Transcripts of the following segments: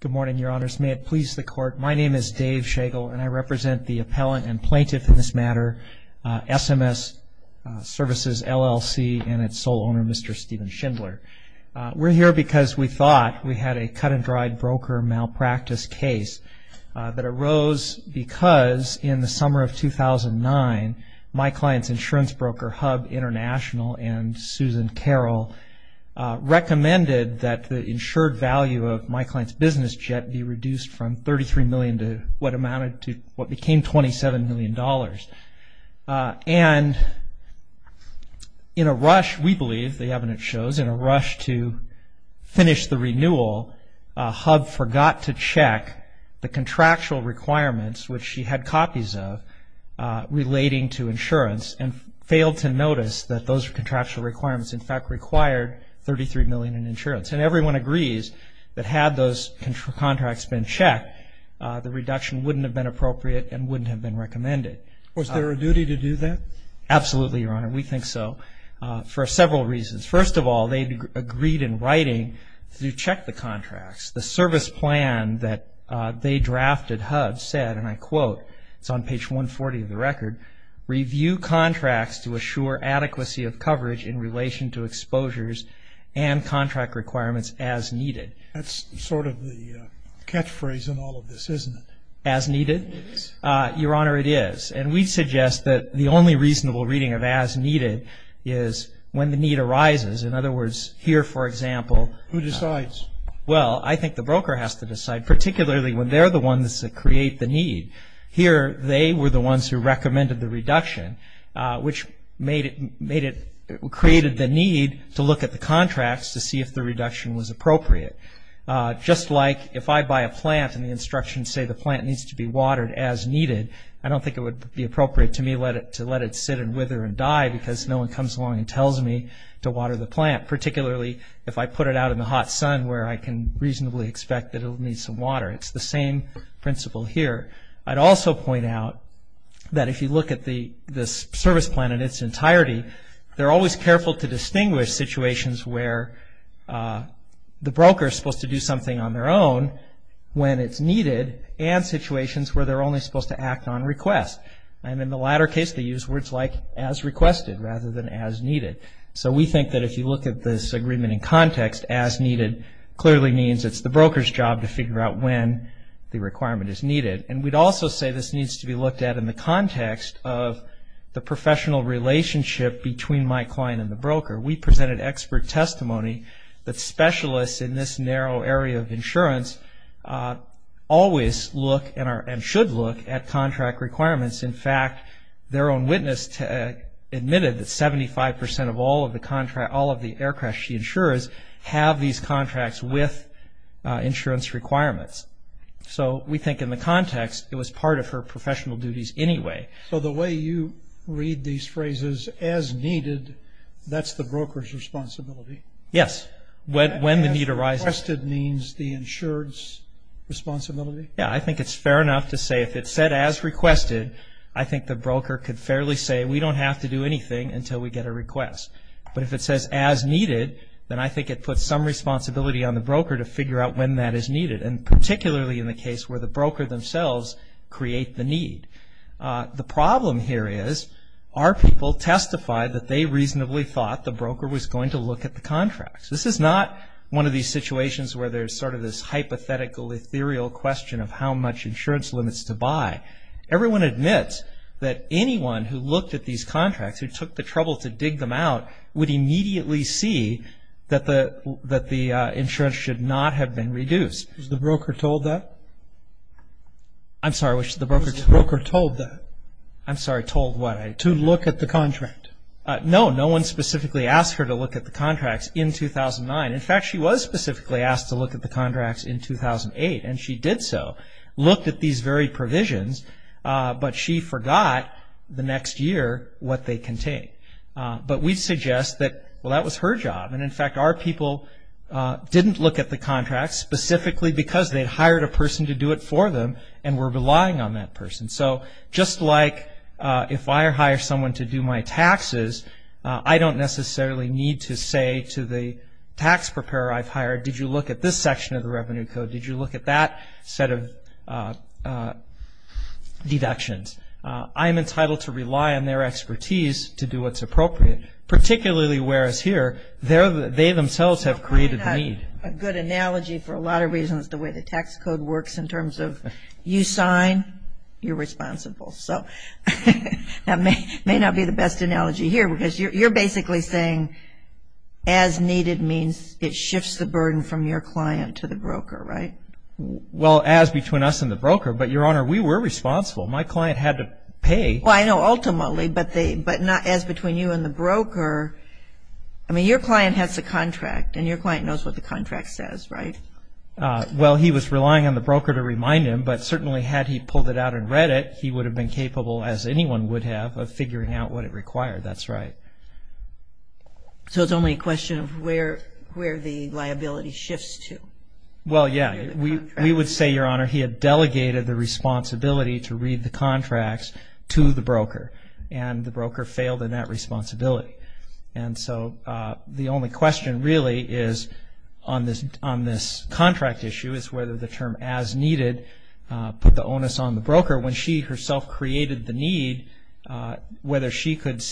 Good morning, Your Honors. May it please the Court, my name is Dave Shagel, and I represent the Appellant and Plaintiff in this matter, SMS Services LLC, and its sole owner, Mr. Stephen Schindler. We're here because we thought we had a cut-and-dried broker malpractice case that arose because in the summer of 2009, my client's insurance broker, HUB International, and Susan Carroll recommended that the insured value of my client's business jet be reduced from $33 million to what amounted to what became $27 million. And in a rush, we believe, the evidence shows, in a rush to finish the renewal, HUB forgot to check the contractual requirements, which she had copies of, relating to insurance, and failed to notice that those contractual requirements, in fact, required $33 million in insurance. And everyone agrees that had those contracts been checked, the reduction wouldn't have been appropriate and wouldn't have been recommended. Was there a duty to do that? Absolutely, Your Honor, we think so, for several reasons. First of all, they agreed in writing to check the contracts. The service plan that they drafted, HUB, said, and I quote, it's on page 140 of the record, review contracts to assure adequacy of coverage in relation to exposures and contract requirements as needed. That's sort of the catchphrase in all of this, isn't it? As needed? It is. Your Honor, it is. And we suggest that the only reasonable reading of as needed is when the need arises. In other words, here, for example. Who decides? Well, I think the broker has to decide, particularly when they're the ones that create the need. Here, they were the ones who recommended the reduction, which created the need to look at the contracts to see if the reduction was appropriate. Just like if I buy a plant and the instructions say the plant needs to be watered as needed, I don't think it would be appropriate to me to let it sit and wither and die because no one comes along and tells me to water the plant, particularly if I put it out in the hot sun where I can reasonably expect that it will need some water. It's the same principle here. I'd also point out that if you look at the service plan in its entirety, they're always careful to distinguish situations where the broker is supposed to do something on their own when it's needed and situations where they're only supposed to act on requests. And in the latter case, they use words like as requested rather than as needed. So we think that if you look at this agreement in context, as needed clearly means it's the broker's job to figure out when the requirement is needed. And we'd also say this needs to be looked at in the context of the professional relationship between my client and the broker. We presented expert testimony that specialists in this narrow area of insurance always look and should look at contract requirements. In fact, their own witness admitted that 75% of all of the aircraft she insures have these contracts with insurance requirements. So we think in the context, it was part of her professional duties anyway. So the way you read these phrases, as needed, that's the broker's responsibility? Yes, when the need arises. As requested means the insured's responsibility? Yeah, I think it's fair enough to say if it said as requested, I think the broker could fairly say we don't have to do anything until we get a request. But if it says as needed, then I think it puts some responsibility on the broker to figure out when that is needed, and particularly in the case where the broker themselves create the need. The problem here is our people testified that they reasonably thought the broker was going to look at the contracts. This is not one of these situations where there's sort of this hypothetical, ethereal question of how much insurance limits to buy. Everyone admits that anyone who looked at these contracts, who took the trouble to dig them out, would immediately see that the insurance should not have been reduced. I'm sorry, was the broker told that? I'm sorry, told what? To look at the contract. No, no one specifically asked her to look at the contracts in 2009. In fact, she was specifically asked to look at the contracts in 2008, and she did so. Looked at these very provisions, but she forgot the next year what they contained. But we suggest that, well, that was her job, and in fact our people didn't look at the contracts specifically because they'd hired a person to do it for them and were relying on that person. So just like if I hire someone to do my taxes, I don't necessarily need to say to the tax preparer I've hired, did you look at this section of the revenue code? Did you look at that set of deductions? I'm entitled to rely on their expertise to do what's appropriate, particularly whereas here they themselves have created the need. That's a good analogy for a lot of reasons, the way the tax code works in terms of you sign, you're responsible. So that may not be the best analogy here because you're basically saying as needed means it shifts the burden from your client to the broker, right? Well, as between us and the broker, but, Your Honor, we were responsible. My client had to pay. Well, I know, ultimately, but not as between you and the broker. I mean, your client has the contract, and your client knows what the contract says, right? Well, he was relying on the broker to remind him, but certainly had he pulled it out and read it, he would have been capable, as anyone would have, of figuring out what it required. That's right. So it's only a question of where the liability shifts to. Well, yeah. We would say, Your Honor, he had delegated the responsibility to read the contracts to the broker, and the broker failed in that responsibility. And so the only question really is on this contract issue is whether the term as needed put the onus on the broker. When she herself created the need, whether she could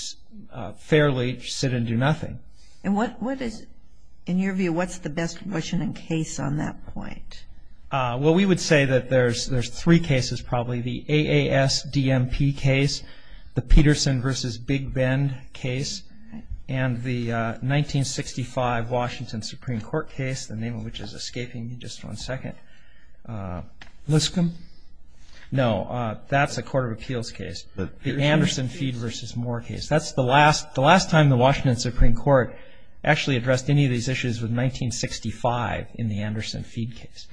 fairly sit and do nothing. And what is, in your view, what's the best question and case on that point? Well, we would say that there's three cases, probably. The AASDMP case, the Peterson v. Big Bend case, and the 1965 Washington Supreme Court case, the name of which is escaping me just one second. Liscombe? No, that's a court of appeals case. The Anderson-Feed v. Moore case. That's the last time the Washington Supreme Court actually addressed any of these issues with 1965 in the Anderson-Feed case.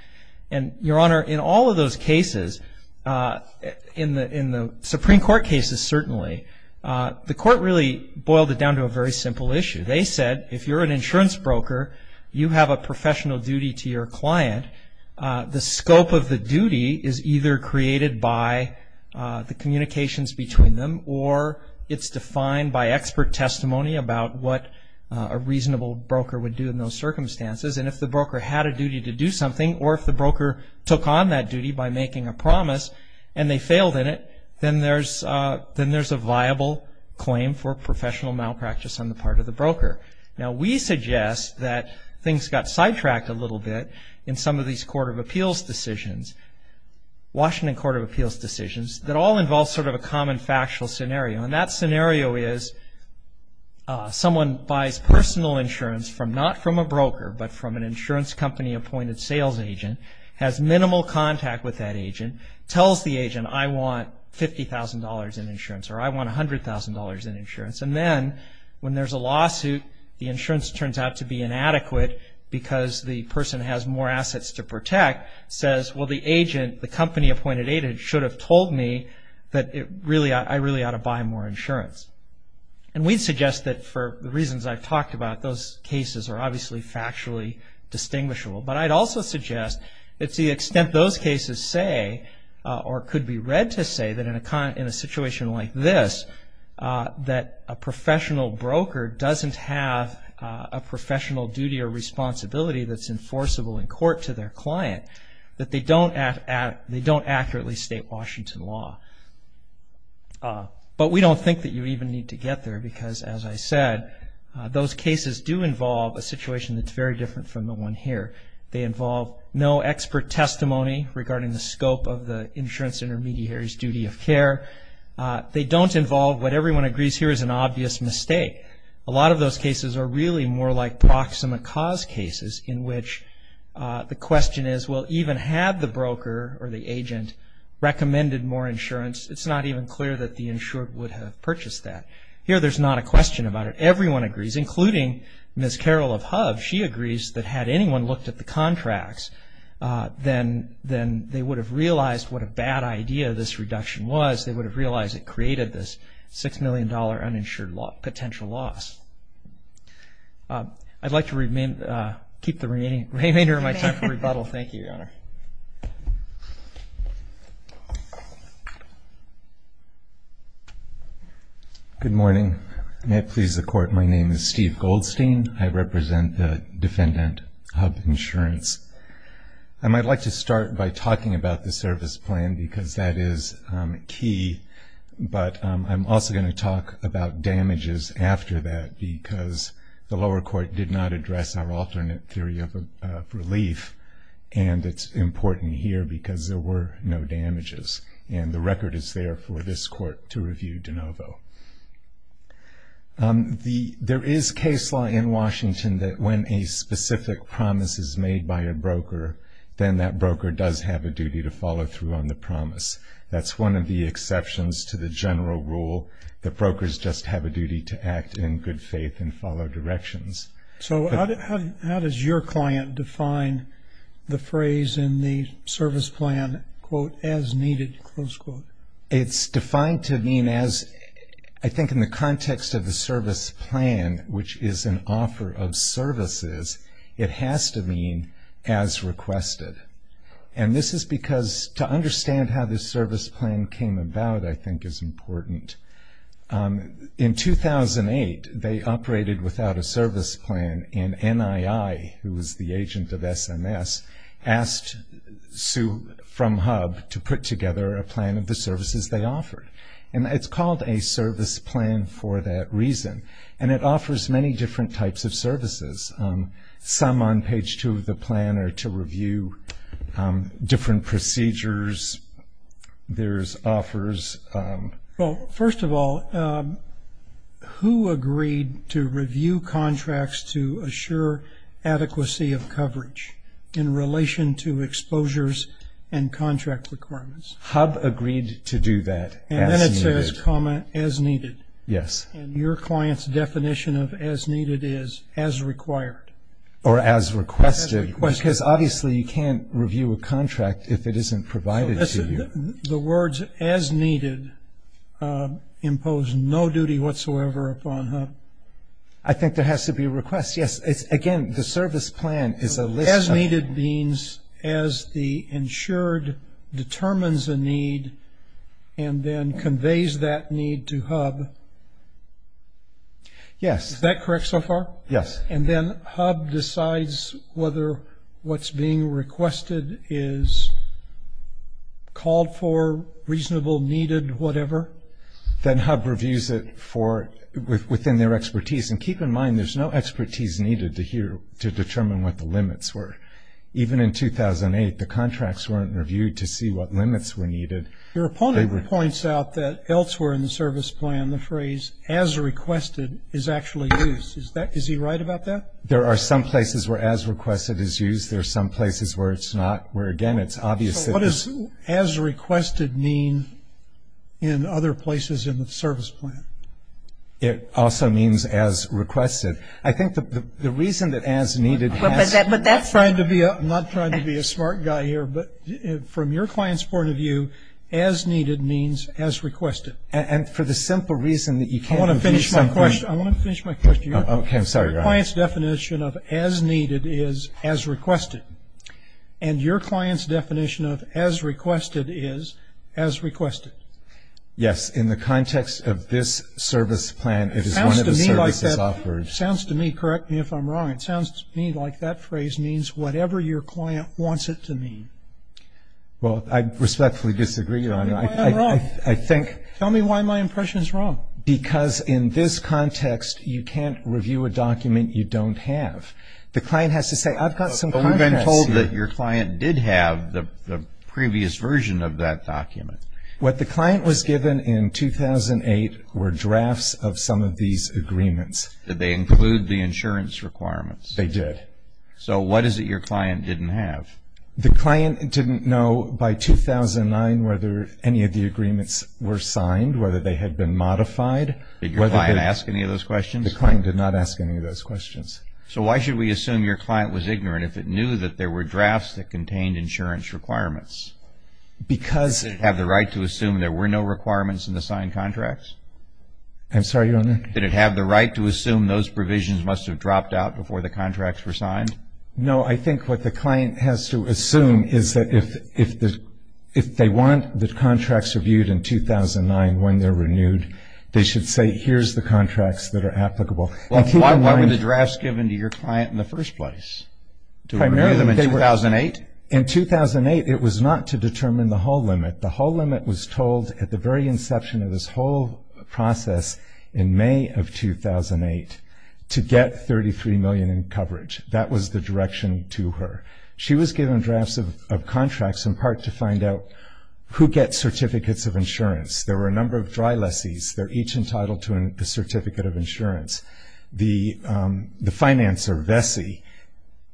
And, Your Honor, in all of those cases, in the Supreme Court cases certainly, the court really boiled it down to a very simple issue. They said if you're an insurance broker, you have a professional duty to your client. The scope of the duty is either created by the communications between them or it's defined by expert testimony about what a reasonable broker would do in those circumstances. And if the broker had a duty to do something, or if the broker took on that duty by making a promise and they failed in it, then there's a viable claim for professional malpractice on the part of the broker. Now, we suggest that things got sidetracked a little bit in some of these court of appeals decisions, Washington Court of Appeals decisions that all involve sort of a common factual scenario. And that scenario is someone buys personal insurance not from a broker but from an insurance company-appointed sales agent, has minimal contact with that agent, tells the agent, I want $50,000 in insurance or I want $100,000 in insurance. And then when there's a lawsuit, the insurance turns out to be inadequate because the person has more assets to protect, says, well, the agent, the company-appointed agent should have told me that I really ought to buy more insurance. And we suggest that for the reasons I've talked about, those cases are obviously factually distinguishable. But I'd also suggest it's the extent those cases say, or could be read to say, that in a situation like this, that a professional broker doesn't have a professional duty or responsibility that's enforceable in court to their client, that they don't accurately state Washington law. But we don't think that you even need to get there because, as I said, those cases do involve a situation that's very different from the one here. They involve no expert testimony regarding the scope of the insurance intermediary's duty of care. They don't involve what everyone agrees here is an obvious mistake. A lot of those cases are really more like proximate cause cases in which the question is, well, even had the broker or the agent recommended more insurance, it's not even clear that the insured would have purchased that. Here there's not a question about it. Everyone agrees, including Ms. Carol of Hub. She agrees that had anyone looked at the contracts, then they would have realized what a bad idea this reduction was. They would have realized it created this $6 million uninsured potential loss. I'd like to keep the remainder of my time for rebuttal. Thank you, Your Honor. Good morning. May it please the Court, my name is Steve Goldstein. I represent the defendant, Hub Insurance. I'd like to start by talking about the service plan because that is key, but I'm also going to talk about damages after that because the lower court did not address our alternate theory of relief, and it's important here because there were no damages, and the record is there for this court to review de novo. There is case law in Washington that when a specific promise is made by a broker, then that broker does have a duty to follow through on the promise. That's one of the exceptions to the general rule. The brokers just have a duty to act in good faith and follow directions. So how does your client define the phrase in the service plan, quote, as needed, close quote? It's defined to mean as, I think in the context of the service plan, which is an offer of services, it has to mean as requested. And this is because to understand how this service plan came about, I think is important. In 2008, they operated without a service plan, and NII, who was the agent of SMS, asked Sue from HUB to put together a plan of the services they offered. And it's called a service plan for that reason, and it offers many different types of services. Some on page two of the plan are to review different procedures. There's offers. Well, first of all, who agreed to review contracts to assure adequacy of coverage in relation to exposures and contract requirements? HUB agreed to do that. And then it says, comma, as needed. Yes. And your client's definition of as needed is as required. Or as requested. Because obviously you can't review a contract if it isn't provided to you. And the words as needed impose no duty whatsoever upon HUB. I think there has to be a request. Yes. Again, the service plan is a list. As needed means as the insured determines a need and then conveys that need to HUB. Yes. Is that correct so far? Yes. And then HUB decides whether what's being requested is called for, reasonable, needed, whatever? Then HUB reviews it within their expertise. And keep in mind there's no expertise needed to determine what the limits were. Even in 2008, the contracts weren't reviewed to see what limits were needed. Your opponent points out that elsewhere in the service plan, the phrase as requested is actually used. Is he right about that? There are some places where as requested is used. There are some places where it's not, where, again, it's obvious that it's. So what does as requested mean in other places in the service plan? It also means as requested. I think the reason that as needed has. I'm not trying to be a smart guy here, but from your client's point of view, as needed means as requested. And for the simple reason that you can't review something. I want to finish my question. Okay, I'm sorry. Your client's definition of as needed is as requested. And your client's definition of as requested is as requested. Yes. In the context of this service plan, it is one of the services offered. It sounds to me, correct me if I'm wrong, it sounds to me like that phrase means whatever your client wants it to mean. Well, I respectfully disagree. Tell me why I'm wrong. I think. Tell me why my impression is wrong. Because in this context, you can't review a document you don't have. The client has to say, I've got some contracts here. But we've been told that your client did have the previous version of that document. What the client was given in 2008 were drafts of some of these agreements. Did they include the insurance requirements? They did. So what is it your client didn't have? The client didn't know by 2009 whether any of the agreements were signed, whether they had been modified. Did your client ask any of those questions? The client did not ask any of those questions. So why should we assume your client was ignorant if it knew that there were drafts that contained insurance requirements? Because. Did it have the right to assume there were no requirements in the signed contracts? I'm sorry, Your Honor. Did it have the right to assume those provisions must have dropped out before the contracts were signed? No. I think what the client has to assume is that if they want the contracts reviewed in 2009 when they're renewed, they should say, here's the contracts that are applicable. Why were the drafts given to your client in the first place? To renew them in 2008? In 2008, it was not to determine the whole limit. The whole limit was told at the very inception of this whole process in May of 2008 to get $33 million in coverage. That was the direction to her. She was given drafts of contracts in part to find out who gets Certificates of Insurance. There were a number of dry lessees. They're each entitled to a Certificate of Insurance. The financer, Vessi,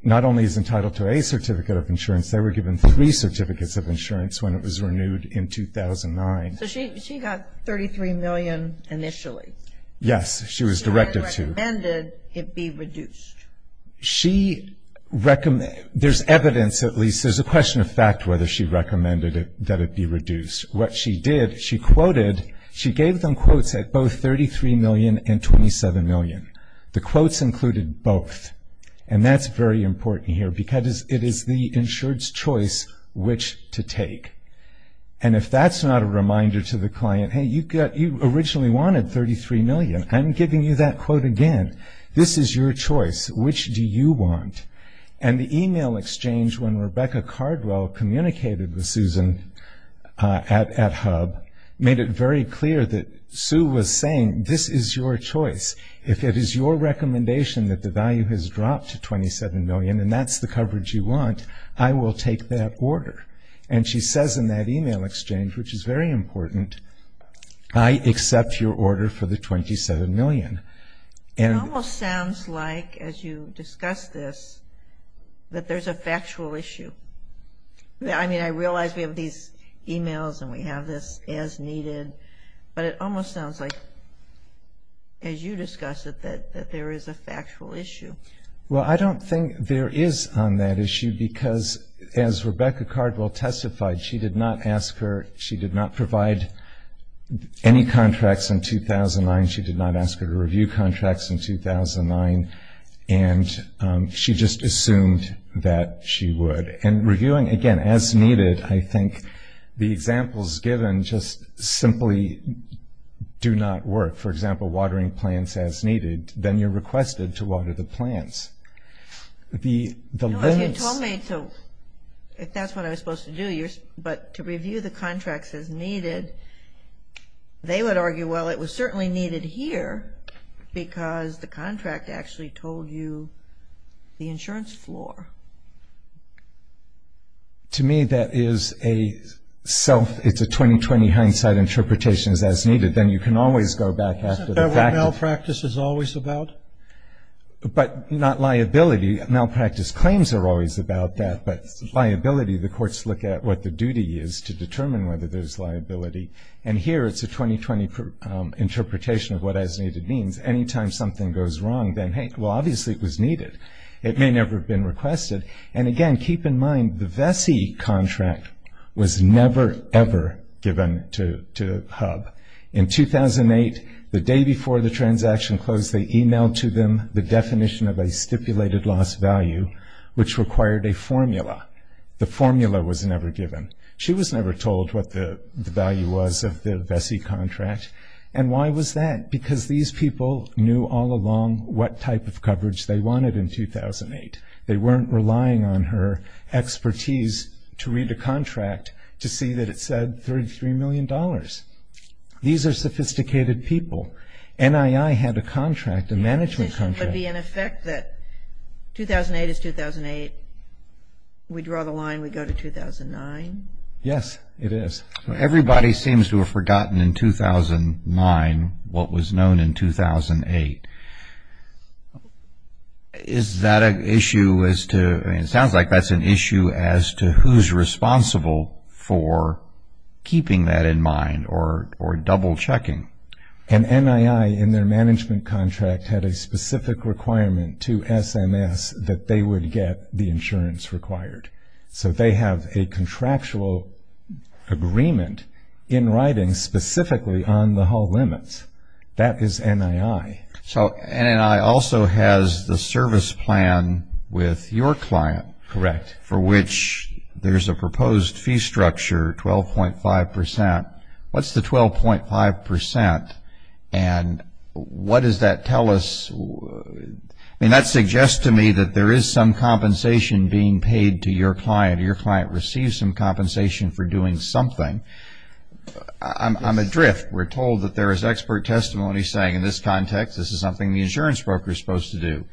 not only is entitled to a Certificate of Insurance, they were given three Certificates of Insurance when it was renewed in 2009. So she got $33 million initially? Yes, she was directed to. She recommended it be reduced. There's evidence, at least. There's a question of fact whether she recommended that it be reduced. What she did, she quoted, she gave them quotes at both $33 million and $27 million. The quotes included both, and that's very important here because it is the insured's choice which to take. And if that's not a reminder to the client, hey, you originally wanted $33 million. I'm giving you that quote again. This is your choice. Which do you want? And the e-mail exchange when Rebecca Cardwell communicated with Susan at HUB made it very clear that Sue was saying this is your choice. If it is your recommendation that the value has dropped to $27 million and that's the coverage you want, I will take that order. And she says in that e-mail exchange, which is very important, I accept your order for the $27 million. It almost sounds like, as you discuss this, that there's a factual issue. I mean, I realize we have these e-mails and we have this as needed, but it almost sounds like, as you discuss it, that there is a factual issue. Well, I don't think there is on that issue because, as Rebecca Cardwell testified, she did not ask her, she did not provide any contracts in 2009. She did not ask her to review contracts in 2009. And she just assumed that she would. And reviewing, again, as needed, I think the examples given just simply do not work. For example, watering plants as needed, then you're requested to water the plants. No, you told me to, if that's what I was supposed to do, but to review the contracts as needed, they would argue, well, it was certainly needed here because the contract actually told you the insurance floor. To me, that is a self, it's a 20-20 hindsight interpretation as needed. Then you can always go back after the fact. Isn't that what malpractice is always about? But not liability. Malpractice claims are always about that, but liability, the courts look at what the duty is to determine whether there's liability. And here it's a 20-20 interpretation of what as needed means. Anytime something goes wrong, then, hey, well, obviously it was needed. It may never have been requested. And, again, keep in mind the Vesey contract was never, ever given to HUB. In 2008, the day before the transaction closed, they emailed to them the definition of a stipulated loss value, which required a formula. The formula was never given. She was never told what the value was of the Vesey contract. And why was that? Because these people knew all along what type of coverage they wanted in 2008. They weren't relying on her expertise to read a contract to see that it said $33 million. These are sophisticated people. NII had a contract, a management contract. It would be in effect that 2008 is 2008. We draw the line, we go to 2009. Yes, it is. Everybody seems to have forgotten in 2009 what was known in 2008. Is that an issue? It sounds like that's an issue as to who's responsible for keeping that in mind or double-checking. And NII, in their management contract, had a specific requirement to SMS that they would get the insurance required. So they have a contractual agreement in writing specifically on the Hull limits. That is NII. So NII also has the service plan with your client. Correct. For which there's a proposed fee structure, 12.5%. What's the 12.5%? And what does that tell us? I mean, that suggests to me that there is some compensation being paid to your client. Your client receives some compensation for doing something. I'm adrift. We're told that there is expert testimony saying, in this context, this is something the insurance broker is supposed to do.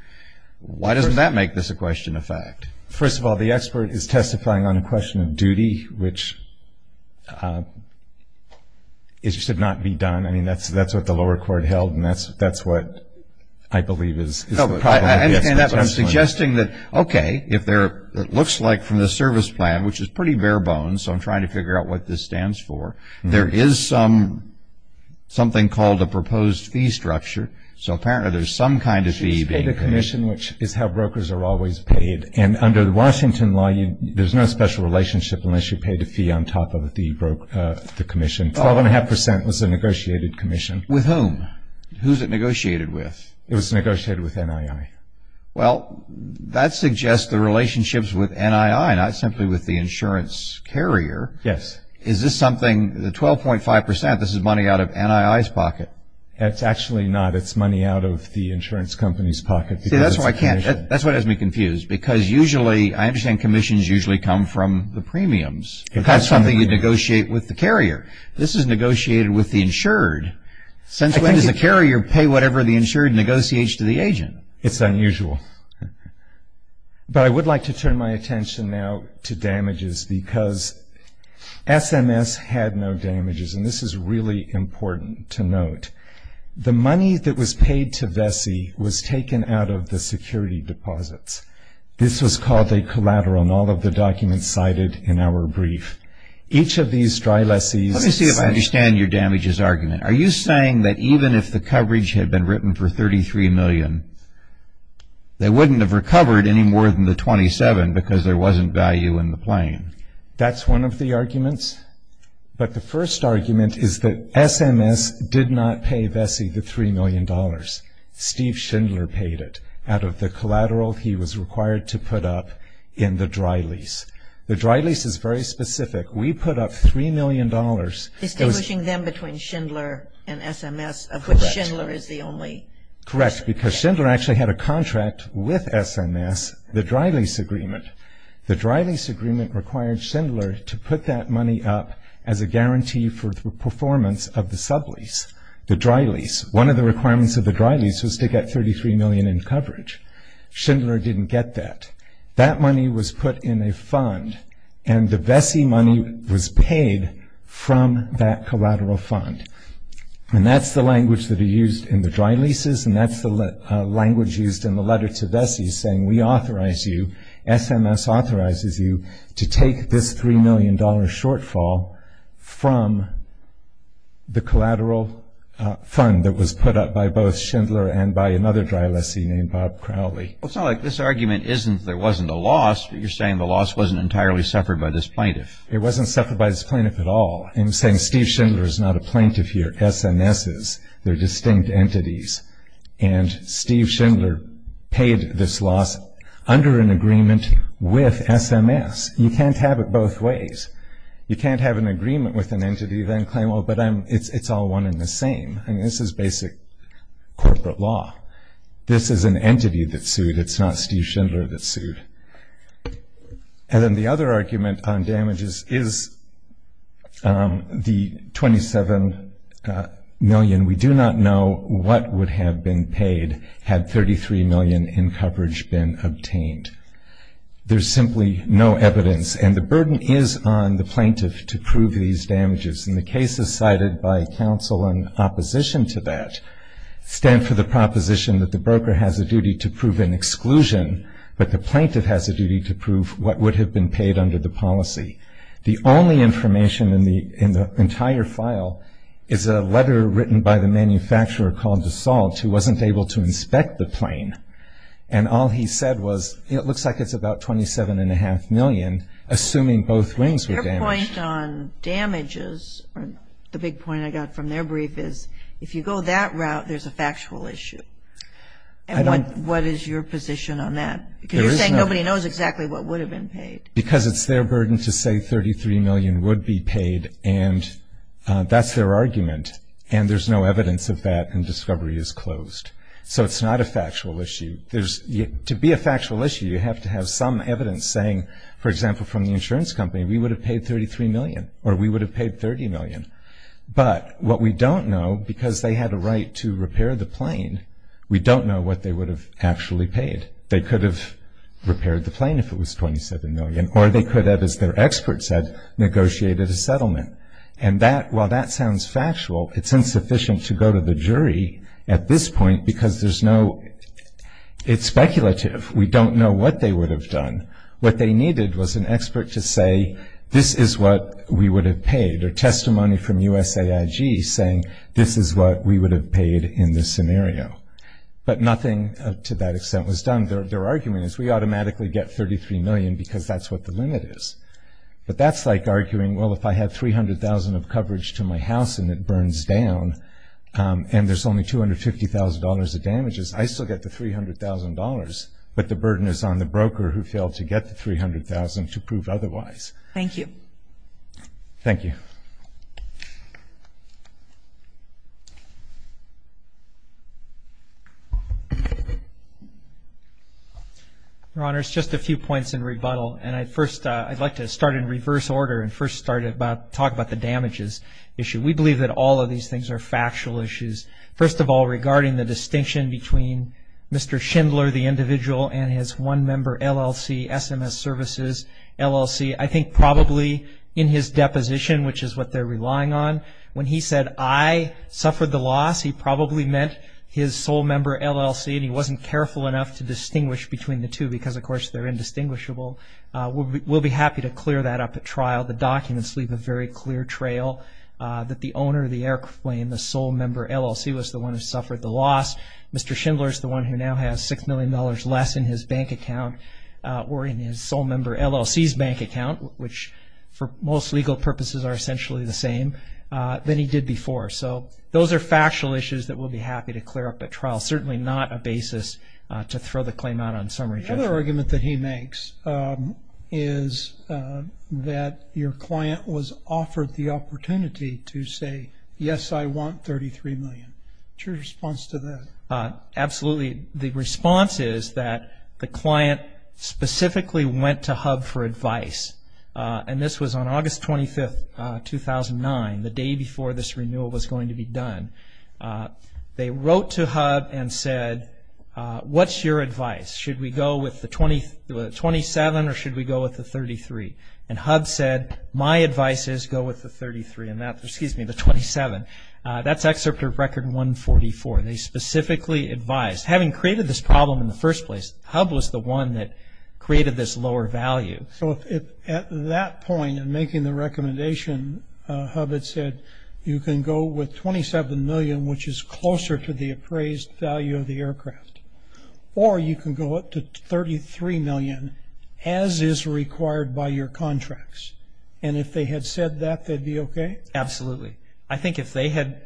Why doesn't that make this a question of fact? First of all, the expert is testifying on a question of duty, which should not be done. I mean, that's what the lower court held, and that's what I believe is the problem. I'm suggesting that, okay, it looks like from the service plan, which is pretty bare bones, so I'm trying to figure out what this stands for. There is something called a proposed fee structure, so apparently there's some kind of fee being paid. It's paid to commission, which is how brokers are always paid. And under the Washington law, there's no special relationship unless you paid a fee on top of the commission. 12.5% was a negotiated commission. With whom? Who's it negotiated with? It was negotiated with NII. Well, that suggests the relationships with NII, not simply with the insurance carrier. Yes. Is this something, the 12.5%, this is money out of NII's pocket? It's actually not. It's money out of the insurance company's pocket. See, that's why I can't, that's what has me confused, because usually, I understand commissions usually come from the premiums. This is negotiated with the insured. Since when does the carrier pay whatever the insured negotiates to the agent? It's unusual. But I would like to turn my attention now to damages, because SMS had no damages, and this is really important to note. The money that was paid to Vesey was taken out of the security deposits. This was called a collateral, and all of the documents cited in our brief. Each of these dry lessees. Let me see if I understand your damages argument. Are you saying that even if the coverage had been written for $33 million, they wouldn't have recovered any more than the 27 because there wasn't value in the plane? That's one of the arguments. But the first argument is that SMS did not pay Vesey the $3 million. Steve Schindler paid it out of the collateral he was required to put up in the dry lease. The dry lease is very specific. We put up $3 million. Distinguishing them between Schindler and SMS, of which Schindler is the only. Correct, because Schindler actually had a contract with SMS, the dry lease agreement. The dry lease agreement required Schindler to put that money up as a guarantee for the performance of the sub-lease, the dry lease. One of the requirements of the dry lease was to get $33 million in coverage. Schindler didn't get that. That money was put in a fund, and the Vesey money was paid from that collateral fund. And that's the language that are used in the dry leases, and that's the language used in the letter to Vesey saying we authorize you, SMS authorizes you, to take this $3 million shortfall from the collateral fund that was put up by both Schindler and by another dry lessee named Bob Crowley. It's not like this argument isn't there wasn't a loss, but you're saying the loss wasn't entirely suffered by this plaintiff. It wasn't suffered by this plaintiff at all. I'm saying Steve Schindler is not a plaintiff here. SMS is. They're distinct entities. And Steve Schindler paid this loss under an agreement with SMS. You can't have it both ways. You can't have an agreement with an entity then claim, well, but it's all one and the same. I mean, this is basic corporate law. This is an entity that sued. It's not Steve Schindler that sued. And then the other argument on damages is the $27 million. We do not know what would have been paid had $33 million in coverage been obtained. There's simply no evidence. And the burden is on the plaintiff to prove these damages. And the cases cited by counsel in opposition to that stand for the proposition that the broker has a duty to prove an exclusion, but the plaintiff has a duty to prove what would have been paid under the policy. The only information in the entire file is a letter written by the manufacturer called DeSalt who wasn't able to inspect the plane. And all he said was, you know, it looks like it's about $27.5 million, assuming both wings were damaged. The point on damages, or the big point I got from their brief, is if you go that route, there's a factual issue. And what is your position on that? Because you're saying nobody knows exactly what would have been paid. Because it's their burden to say $33 million would be paid, and that's their argument. And there's no evidence of that, and discovery is closed. So it's not a factual issue. To be a factual issue, you have to have some evidence saying, for example, from the insurance company, we would have paid $33 million, or we would have paid $30 million. But what we don't know, because they had a right to repair the plane, we don't know what they would have actually paid. They could have repaired the plane if it was $27 million, or they could have, as their expert said, negotiated a settlement. And while that sounds factual, it's insufficient to go to the jury at this point because there's no – it's speculative. We don't know what they would have done. What they needed was an expert to say this is what we would have paid, or testimony from USAIG saying this is what we would have paid in this scenario. But nothing to that extent was done. Their argument is we automatically get $33 million because that's what the limit is. But that's like arguing, well, if I had $300,000 of coverage to my house and it burns down and there's only $250,000 of damages, I still get the $300,000, but the burden is on the broker who failed to get the $300,000 to prove otherwise. Thank you. Thank you. Your Honors, just a few points in rebuttal. And I'd like to start in reverse order and first talk about the damages issue. We believe that all of these things are factual issues. First of all, regarding the distinction between Mr. Schindler, the individual, and his one-member LLC, SMS Services LLC, I think probably in his deposition, which is what they're relying on, when he said, I suffered the loss, he probably meant his sole-member LLC, and he wasn't careful enough to distinguish between the two because, of course, they're indistinguishable. We'll be happy to clear that up at trial. The documents leave a very clear trail that the owner of the airplane, the sole-member LLC, was the one who suffered the loss. Mr. Schindler is the one who now has $6 million less in his bank account or in his sole-member LLC's bank account, which for most legal purposes are essentially the same than he did before. So those are factual issues that we'll be happy to clear up at trial, certainly not a basis to throw the claim out on summary judgment. Another argument that he makes is that your client was offered the opportunity to say, yes, I want $33 million. What's your response to that? Absolutely. The response is that the client specifically went to HUB for advice, and this was on August 25, 2009, the day before this renewal was going to be done. They wrote to HUB and said, what's your advice? Should we go with the $27 or should we go with the $33? And HUB said, my advice is go with the $33, excuse me, the $27. That's excerpt of Record 144. They specifically advised. Having created this problem in the first place, HUB was the one that created this lower value. So at that point in making the recommendation, HUB had said you can go with $27 million, which is closer to the appraised value of the aircraft, or you can go up to $33 million, as is required by your contracts. And if they had said that, they'd be okay? Absolutely. I think if they had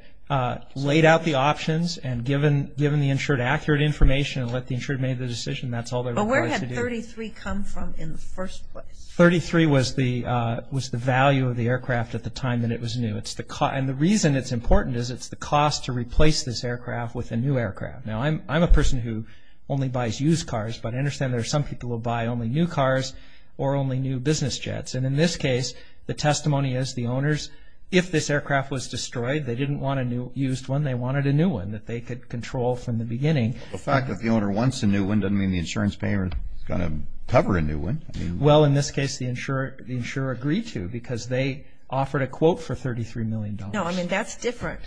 laid out the options and given the insured accurate information and let the insured make the decision, that's all they're required to do. But where had $33 come from in the first place? $33 was the value of the aircraft at the time that it was new. And the reason it's important is it's the cost to replace this aircraft with a new aircraft. Now, I'm a person who only buys used cars, but I understand there are some people who buy only new cars or only new business jets. And in this case, the testimony is the owners, if this aircraft was destroyed, they didn't want a used one, they wanted a new one that they could control from the beginning. The fact that the owner wants a new one doesn't mean the insurance payer is going to cover a new one. Well, in this case, the insurer agreed to because they offered a quote for $33 million. No, I mean, that's different.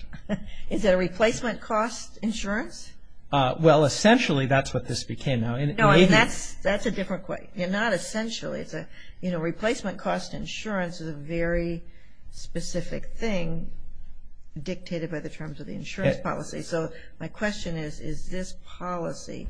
Is it a replacement cost insurance? Well, essentially, that's what this became. No, that's a different question. Not essentially. You know, replacement cost insurance is a very specific thing dictated by the terms of the insurance policy. So my question is, is this policy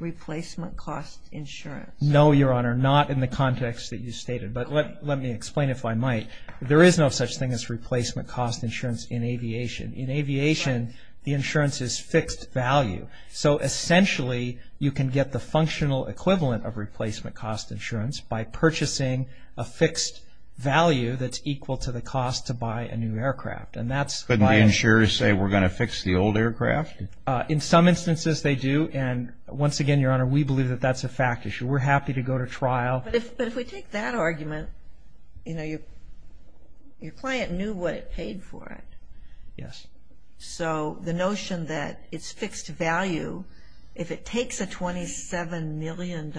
replacement cost insurance? No, Your Honor, not in the context that you stated. But let me explain if I might. There is no such thing as replacement cost insurance in aviation. In aviation, the insurance is fixed value. So essentially, you can get the functional equivalent of replacement cost insurance by purchasing a fixed value that's equal to the cost to buy a new aircraft. Couldn't the insurers say we're going to fix the old aircraft? In some instances, they do. And once again, Your Honor, we believe that that's a fact issue. We're happy to go to trial. But if we take that argument, you know, your client knew what it paid for it. Yes. So the notion that it's fixed value, if it takes a $27 million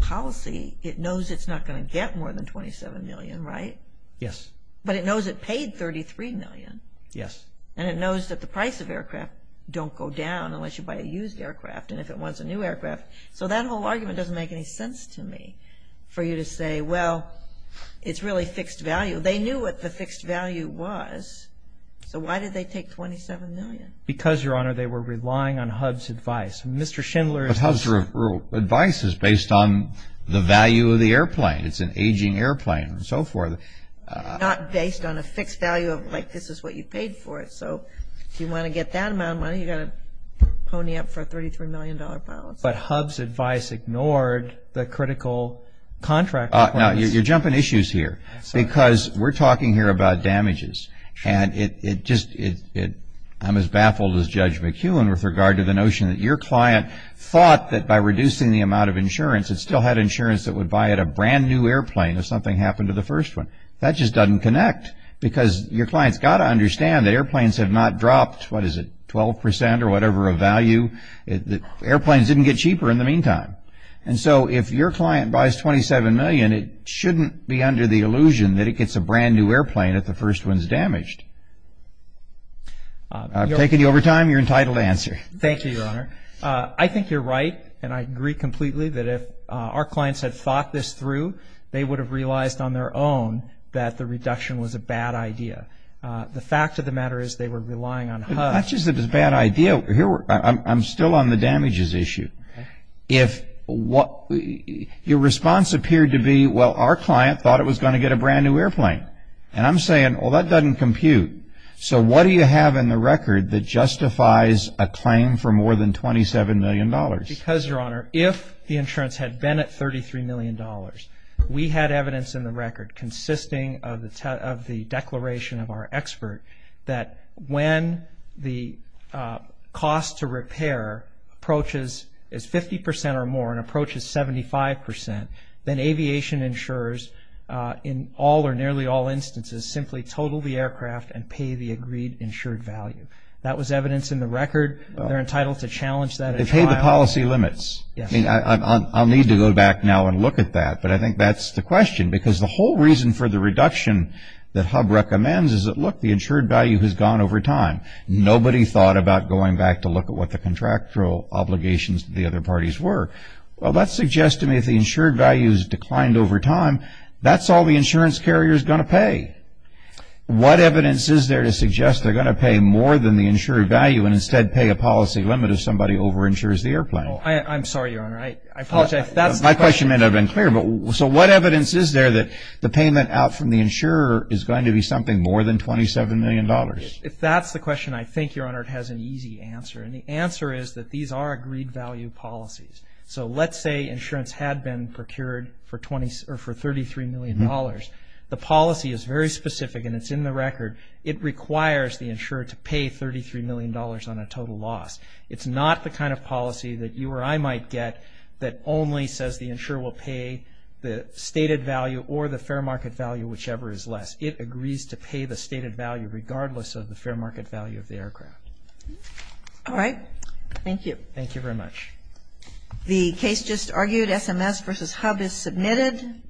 policy, it knows it's not going to get more than $27 million, right? Yes. But it knows it paid $33 million. Yes. And it knows that the price of aircraft don't go down unless you buy a used aircraft. And if it wants a new aircraft. So that whole argument doesn't make any sense to me. For you to say, well, it's really fixed value. They knew what the fixed value was. So why did they take $27 million? Because, Your Honor, they were relying on HUD's advice. Mr. Schindler's advice is based on the value of the airplane. It's an aging airplane and so forth. Not based on a fixed value of, like, this is what you paid for it. So if you want to get that amount of money, you've got to pony up for a $33 million policy. But HUD's advice ignored the critical contract requirements. Now, you're jumping issues here because we're talking here about damages. And I'm as baffled as Judge McEwen with regard to the notion that your client thought that by reducing the amount of insurance, it still had insurance that would buy it a brand new airplane if something happened to the first one. That just doesn't connect. Because your client's got to understand that airplanes have not dropped, what is it, 12% or whatever of value. Airplanes didn't get cheaper in the meantime. And so if your client buys $27 million, it shouldn't be under the illusion that it gets a brand new airplane if the first one's damaged. I've taken you over time. You're entitled to answer. Thank you, Your Honor. I think you're right, and I agree completely, that if our clients had thought this through, they would have realized on their own that the reduction was a bad idea. The fact of the matter is they were relying on HUD. It's not just that it was a bad idea. I'm still on the damages issue. Your response appeared to be, well, our client thought it was going to get a brand new airplane. And I'm saying, well, that doesn't compute. So what do you have in the record that justifies a claim for more than $27 million? Because, Your Honor, if the insurance had been at $33 million, we had evidence in the record consisting of the declaration of our expert that when the cost to repair approaches 50% or more and approaches 75%, then aviation insurers in all or nearly all instances simply total the aircraft and pay the agreed insured value. That was evidence in the record. They're entitled to challenge that at trial. They pay the policy limits. Yes. I mean, I'll need to go back now and look at that. But I think that's the question because the whole reason for the reduction that HUD recommends is that, look, the insured value has gone over time. Nobody thought about going back to look at what the contractual obligations to the other parties were. Well, that suggests to me if the insured value has declined over time, that's all the insurance carrier is going to pay. What evidence is there to suggest they're going to pay more than the insured value and instead pay a policy limit if somebody overinsures the airplane? I'm sorry, Your Honor. I apologize. If that's the question. My question may not have been clear. So what evidence is there that the payment out from the insurer is going to be something more than $27 million? If that's the question, I think, Your Honor, it has an easy answer. And the answer is that these are agreed value policies. So let's say insurance had been procured for $33 million. The policy is very specific and it's in the record. It requires the insurer to pay $33 million on a total loss. It's not the kind of policy that you or I might get that only says the insurer will pay the stated value or the fair market value, whichever is less. It agrees to pay the stated value regardless of the fair market value of the aircraft. All right. Thank you. Thank you very much. The case just argued, SMS versus HUB, is submitted.